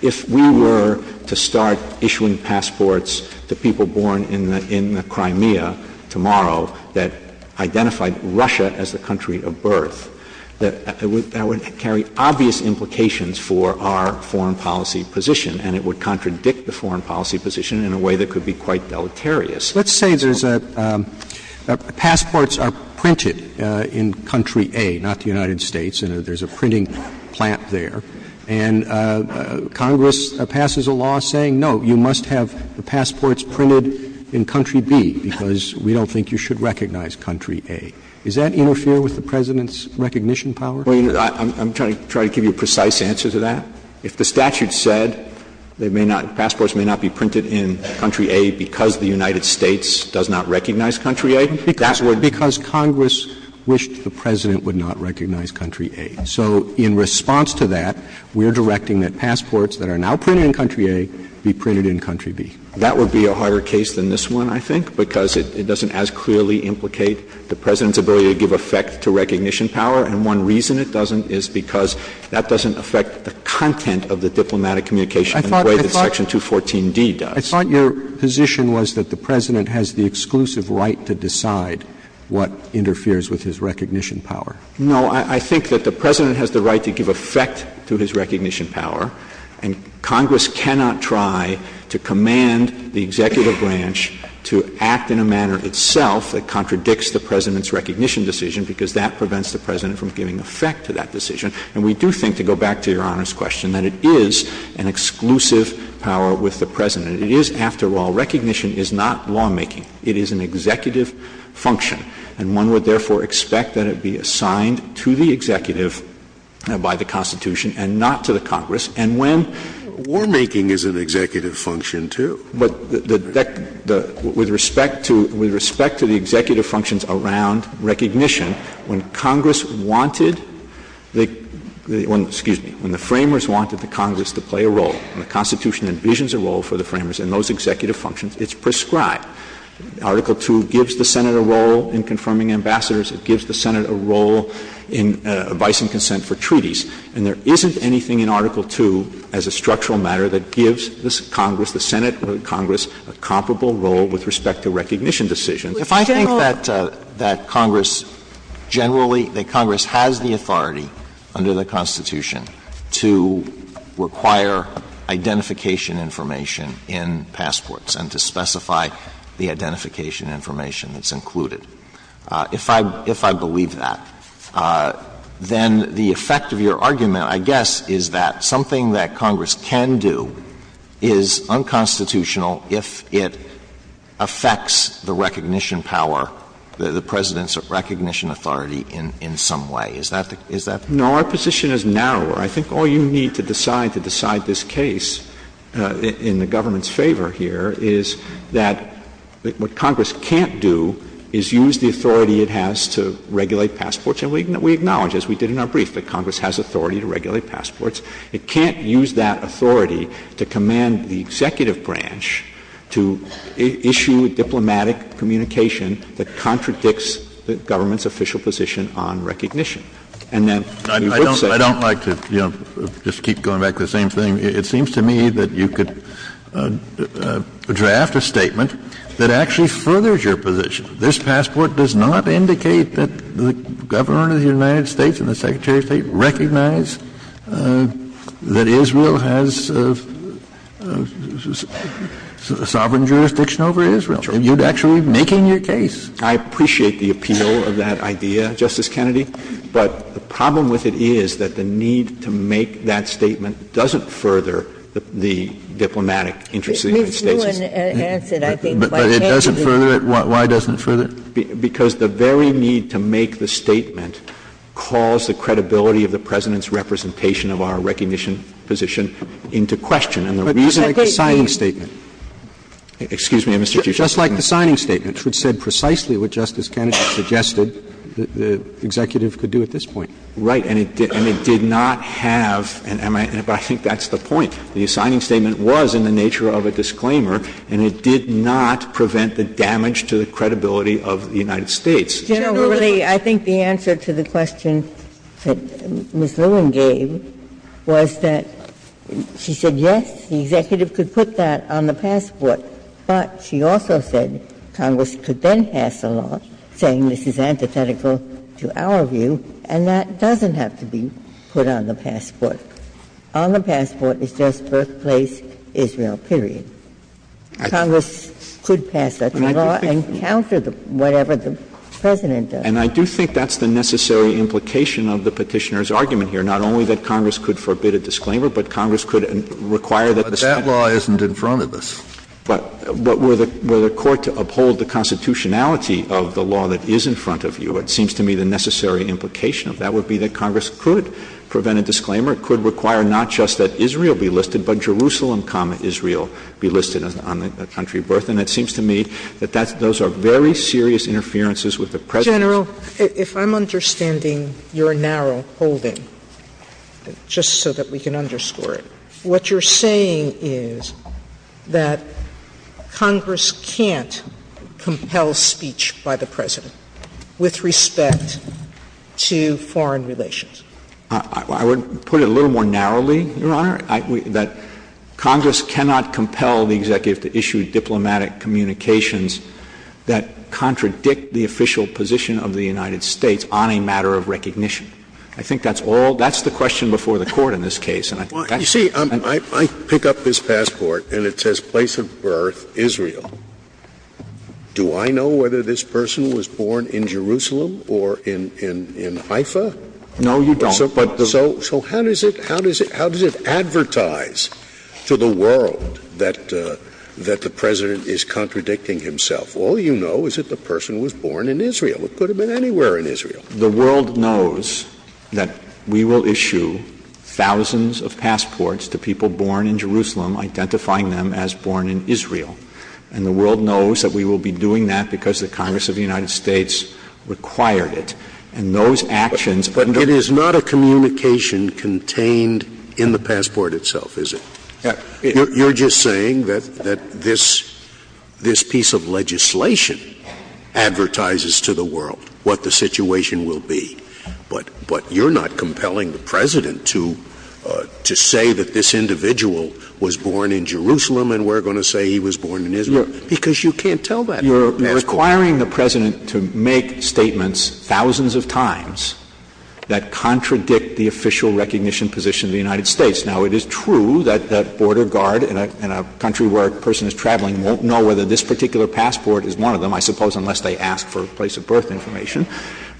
if we were to start issuing passports to people born in the Crimea tomorrow that identified Russia as the country of birth, that would carry obvious implications for our foreign policy position. And it would contradict the foreign policy position in a way that could be quite deleterious. Let's say there's a – passports are printed in country A, not the United States, and there's a printing plant there. And Congress passes a law saying, no, you must have the passports printed in country B because we don't think you should recognize country A. Does that interfere with the President's recognition power? Well, I'm trying to give you a precise answer to that. If the statute said they may not – passports may not be printed in country A because the United States does not recognize country A, that would be. Because Congress wished the President would not recognize country A. So in response to that, we are directing that passports that are now printed in country A be printed in country B. That would be a harder case than this one, I think, because it doesn't as clearly implicate the President's ability to give effect to recognition power. And one reason it doesn't is because that doesn't affect the content of the diplomatic communication in the way that section 214D does. I thought your position was that the President has the exclusive right to decide what interferes with his recognition power. No. I think that the President has the right to give effect to his recognition power, and Congress cannot try to command the executive branch to act in a manner that contradicts the President's recognition decision because that prevents the President from giving effect to that decision. And we do think, to go back to Your Honor's question, that it is an exclusive power with the President. It is, after all, recognition is not lawmaking. It is an executive function. And one would, therefore, expect that it be assigned to the executive by the Constitution and not to the Congress. And when — Warmaking is an executive function, too. But the — with respect to — with respect to the executive functions around recognition, when Congress wanted the — excuse me — when the Framers wanted the Congress to play a role, and the Constitution envisions a role for the Framers in those executive functions, it's prescribed. Article II gives the Senate a role in confirming ambassadors. It gives the Senate a role in advice and consent for treaties. And there isn't anything in Article II, as a structural matter, that gives the Congress, the Senate or Congress, a comparable role with respect to recognition decisions. If I think that Congress generally — that Congress has the authority under the Constitution to require identification information in passports and to specify the identification information that's included, if I believe that, then the effect of your argument, I guess, is that something that Congress can do is unconstitutional if it affects the recognition power, the President's recognition authority in some way. Is that the — is that? No. Our position is narrower. I think all you need to decide to decide this case in the government's favor here is that what Congress can't do is use the authority it has to regulate passports. And we acknowledge, as we did in our brief, that Congress has authority to regulate passports. It can't use that authority to command the executive branch to issue diplomatic communication that contradicts the government's official position on recognition. And then we would say — Kennedy, I don't like to, you know, just keep going back to the same thing. It seems to me that you could draft a statement that actually furthers your position. This passport does not indicate that the Governor of the United States and the Secretary of State recognize that Israel has sovereign jurisdiction over Israel. You're actually making your case. I appreciate the appeal of that idea, Justice Kennedy. But the problem with it is that the need to make that statement doesn't further the diplomatic interests of the United States. Ms. Lewin answered, I think, why Kennedy — But it doesn't further it? Why doesn't it further it? Because the very need to make the statement calls the credibility of the President's representation of our recognition position into question. And the reason — But it's a great — It's like the signing statement. Excuse me, Mr. Chief Justice. It's just like the signing statement, which said precisely what Justice Kennedy suggested the executive could do at this point. Right. And it did not have — and I think that's the point. The signing statement was in the nature of a disclaimer, and it did not prevent the damage to the credibility of the United States. Generally, I think the answer to the question that Ms. Lewin gave was that she said, yes, the executive could put that on the passport. But she also said Congress could then pass a law saying this is antithetical to our view, and that doesn't have to be put on the passport. On the passport, it's just birthplace Israel, period. Congress could pass that law and counter whatever the President does. And I do think that's the necessary implication of the Petitioner's argument here, not only that Congress could forbid a disclaimer, but Congress could require that the — But that law isn't in front of us. But were the court to uphold the constitutionality of the law that is in front of you, it seems to me the necessary implication of that would be that Congress could prevent a disclaimer. It could require not just that Israel be listed, but Jerusalem, Israel be listed on the country of birth. And it seems to me that that's — those are very serious interferences with the President. General, if I'm understanding your narrow holding, just so that we can underscore it, what you're saying is that Congress can't compel speech by the President with respect to foreign relations? I would put it a little more narrowly, Your Honor, that Congress cannot compel the executive to issue diplomatic communications that contradict the official position of the United States on a matter of recognition. I think that's all — that's the question before the Court in this case, and I think that's — Well, you see, I pick up this passport and it says place of birth Israel. Do I know whether this person was born in Jerusalem or in Haifa? No, you don't. So how does it — how does it advertise to the world that the President is contradicting himself? All you know is that the person was born in Israel. It could have been anywhere in Israel. The world knows that we will issue thousands of passports to people born in Jerusalem identifying them as born in Israel, and the world knows that we will be doing that because the Congress of the United States required it. And those actions — But it is not a communication contained in the passport itself, is it? You're just saying that — that this — this piece of legislation advertises to the world what the situation will be, but — but you're not compelling the President to — to say that this individual was born in Jerusalem and we're going to say he was born in Israel, because you can't tell that. You're — you're requiring the President to make statements thousands of times that contradict the official recognition position of the United States. Now, it is true that — that Border Guard in a — in a country where a person is traveling won't know whether this particular passport is one of them, I suppose, unless they ask for a place of birth information,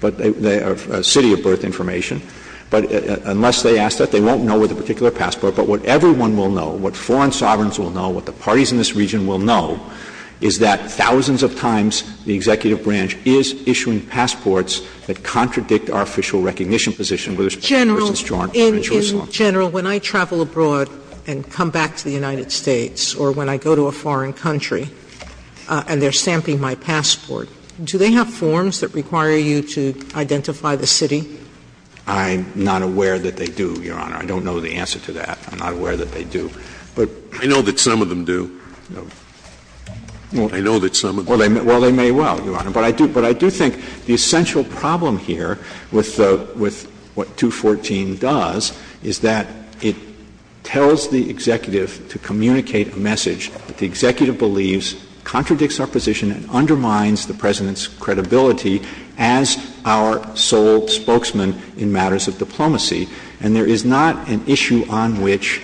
but — a city of birth information. But unless they ask that, they won't know with a particular passport. But what everyone will know, what foreign sovereigns will know, what the parties in this region will know, is that thousands of times the executive branch is issuing passports that contradict our official recognition position with respect to — General, in — in general, when I travel abroad and come back to the United States or when I go to a foreign country and they're stamping my passport, do they have forms that require you to identify the city? I'm not aware that they do, Your Honor. I don't know the answer to that. I'm not aware that they do. But — Well, I know that some of them do. Well, they may well, Your Honor. But I do — but I do think the essential problem here with the — with what 214 does is that it tells the executive to communicate a message that the executive believes contradicts our position and undermines the President's credibility as our sole spokesman in matters of diplomacy, and there is not an issue on which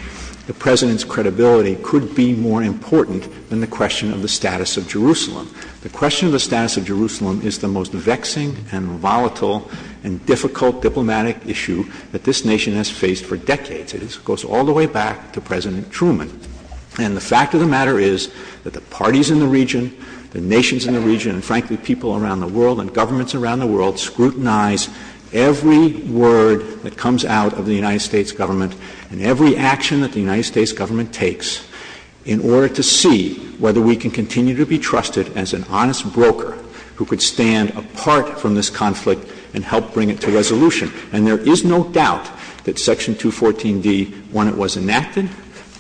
the President's credibility could be more important than the question of the status of Jerusalem. The question of the status of Jerusalem is the most vexing and volatile and difficult diplomatic issue that this Nation has faced for decades. It goes all the way back to President Truman. And the fact of the matter is that the parties in the region, the nations in the region, and, frankly, people around the world and governments around the world, scrutinize every word that comes out of the United States Government and every action that the United States Government takes in order to see whether we can continue to be trusted as an honest broker who could stand apart from this conflict and help bring it to resolution. And there is no doubt that Section 214D, when it was enacted,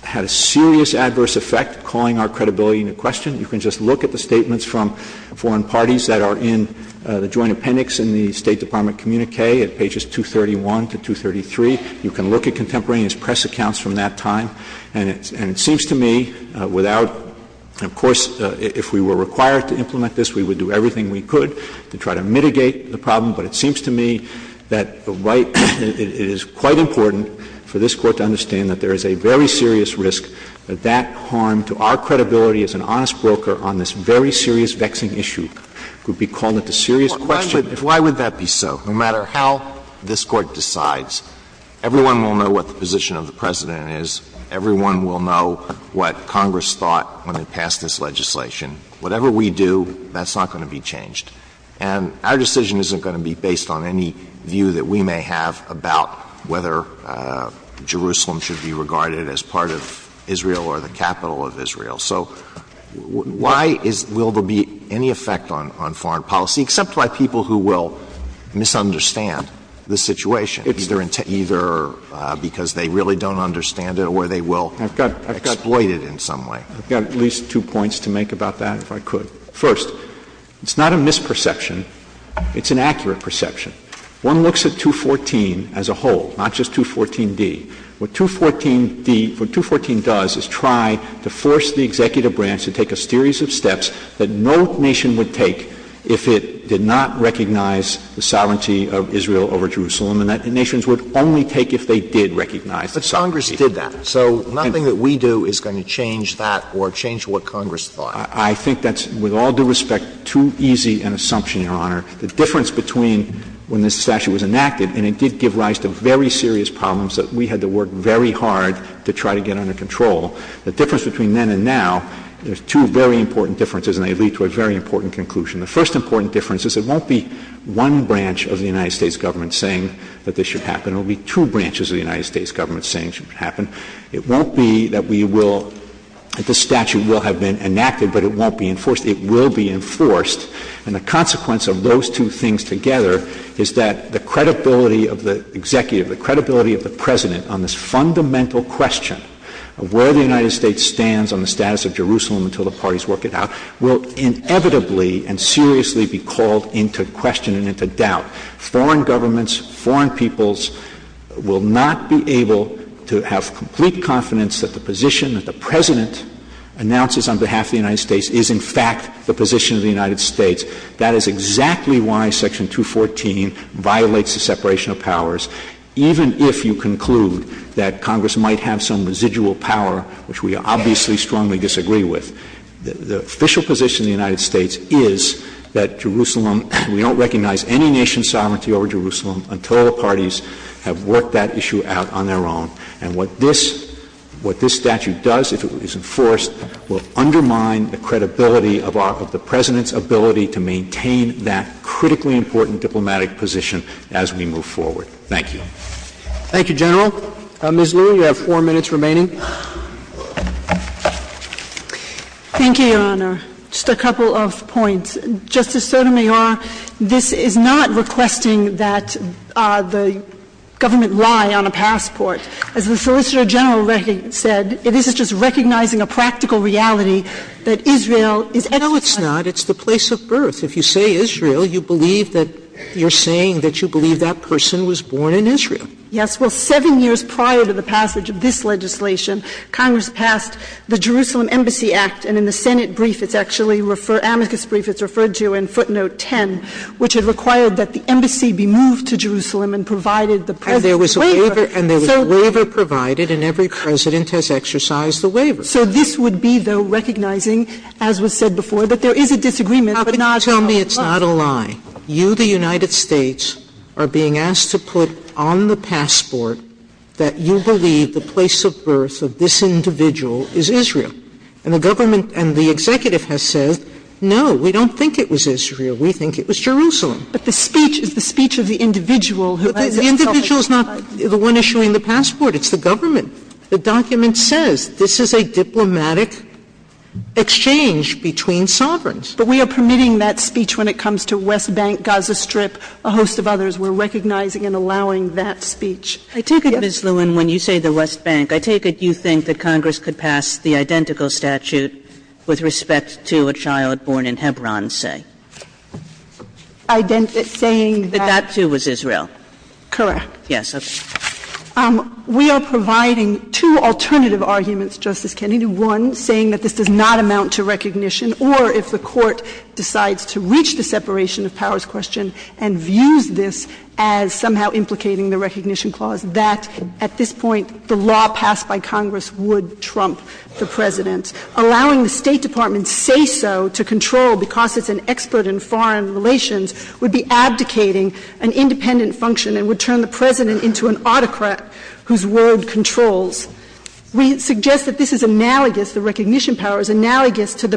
had a serious adverse effect calling our credibility into question. You can just look at the statements from foreign parties that are in the Joint Appendix in the State Department communique at pages 231 to 233. You can look at contemporaneous press accounts from that time. And it seems to me without, of course, if we were required to implement this, we would do everything we could to try to mitigate the problem. But it seems to me that the right, it is quite important for this Court to understand that there is a very serious risk that that harm to our credibility as an honest broker on this very serious vexing issue could be called into serious question. Alito Why would that be so? No matter how this Court decides, everyone will know what the position of the President is. Everyone will know what Congress thought when it passed this legislation. Whatever we do, that's not going to be changed. And our decision isn't going to be based on any view that we may have about whether Jerusalem should be regarded as part of Israel or the capital of Israel. So why is — will there be any effect on foreign policy, except by people who will misunderstand the situation, either because they really don't understand it or they will exploit it in some way? I've got at least two points to make about that, if I could. First, it's not a misperception. It's an accurate perception. One looks at 214 as a whole, not just 214d. What 214d — what 214 does is try to force the executive branch to take a series of steps that no nation would take if it did not recognize the sovereignty of Israel over Jerusalem, and that nations would only take if they did recognize it. But Congress did that. So nothing that we do is going to change that or change what Congress thought. I think that's, with all due respect, too easy an assumption, Your Honor. The difference between when this statute was enacted, and it did give rise to very serious problems, that we had to work very hard to try to get under control. The difference between then and now, there's two very important differences, and they lead to a very important conclusion. The first important difference is it won't be one branch of the United States government saying that this should happen. It will be two branches of the United States government saying it should happen. It won't be that we will — that this statute will have been enacted, but it won't be enforced. It will be enforced. And the consequence of those two things together is that the credibility of the President on this fundamental question of where the United States stands on the status of Jerusalem until the parties work it out will inevitably and seriously be called into question and into doubt. Foreign governments, foreign peoples will not be able to have complete confidence that the position that the President announces on behalf of the United States is, in fact, the position of the United States. That is exactly why Section 214 violates the separation of powers, even if you conclude that Congress might have some residual power, which we obviously strongly disagree with. The official position of the United States is that Jerusalem — we don't recognize any nation's sovereignty over Jerusalem until the parties have worked that issue out on their own. And what this — what this statute does, if it is enforced, will undermine the credibility of our — of the President's ability to maintain that critically important diplomatic position as we move forward. Thank you. Thank you, General. Ms. Liu, you have four minutes remaining. Thank you, Your Honor. Just a couple of points. Justice Sotomayor, this is not requesting that the government lie on a passport. As the Solicitor General said, this is just recognizing a practical reality that Israel is — No, it's not. It's the place of birth. If you say Israel, you believe that — you're saying that you believe that that person was born in Israel. Yes. Well, seven years prior to the passage of this legislation, Congress passed the Jerusalem Embassy Act. And in the Senate brief, it's actually — amicus brief, it's referred to in footnote 10, which had required that the embassy be moved to Jerusalem and provided the President's waiver. And there was a waiver — and there was a waiver provided, and every President has exercised the waiver. So this would be, though, recognizing, as was said before, that there is a disagreement, but not — But you are being asked to put on the passport that you believe the place of birth of this individual is Israel. And the government and the executive has said, no, we don't think it was Israel. We think it was Jerusalem. But the speech is the speech of the individual who — But the individual is not the one issuing the passport. It's the government. The document says this is a diplomatic exchange between sovereigns. But we are permitting that speech when it comes to West Bank, Gaza Strip, a host of others, we're recognizing and allowing that speech. I take it, Ms. Lewin, when you say the West Bank, I take it you think that Congress could pass the identical statute with respect to a child born in Hebron, say? Identical — saying that — That that, too, was Israel. Correct. Yes. We are providing two alternative arguments, Justice Kennedy. One, saying that this does not amount to recognition, or if the Court decides to reach the separation of powers question and views this as somehow implicating the recognition clause, that at this point the law passed by Congress would trump the President. Allowing the State Department's say-so to control because it's an expert in foreign relations would be abdicating an independent function and would turn the President into an autocrat whose world controls. We suggest that this is analogous — the recognition power is analogous to the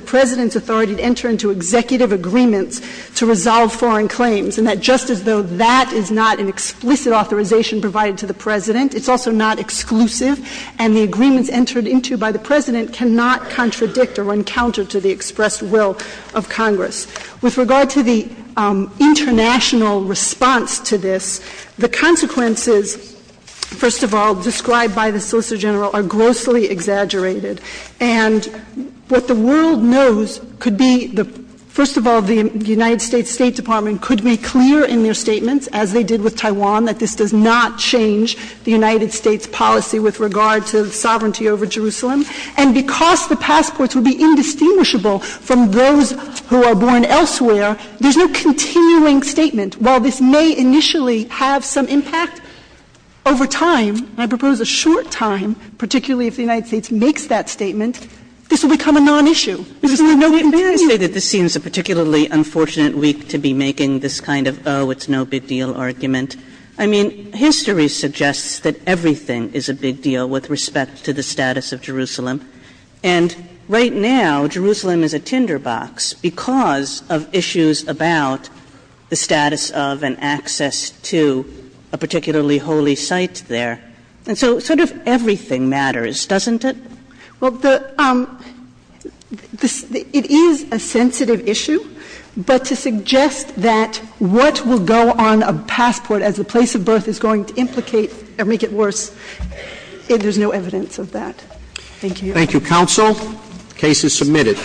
agreements to resolve foreign claims. And that just as though that is not an explicit authorization provided to the President, it's also not exclusive. And the agreements entered into by the President cannot contradict or run counter to the expressed will of Congress. With regard to the international response to this, the consequences, first of all, described by the Solicitor General are grossly exaggerated. And what the world knows could be — first of all, the United States State Department could be clear in their statements, as they did with Taiwan, that this does not change the United States policy with regard to sovereignty over Jerusalem. And because the passports would be indistinguishable from those who are born elsewhere, there's no continuing statement. While this may initially have some impact over time — I propose a short time, particularly if the United States makes that statement — this will become a non-issue. This will be no big deal. Kagan, may I say that this seems a particularly unfortunate week to be making this kind of, oh, it's no big deal, argument? I mean, history suggests that everything is a big deal with respect to the status of Jerusalem. And right now, Jerusalem is a tinderbox because of issues about the status of and access to a particularly holy site there. And so sort of everything matters, doesn't it? Well, it is a sensitive issue. But to suggest that what will go on a passport as a place of birth is going to implicate or make it worse, there's no evidence of that. Thank you. Thank you, counsel. The case is submitted.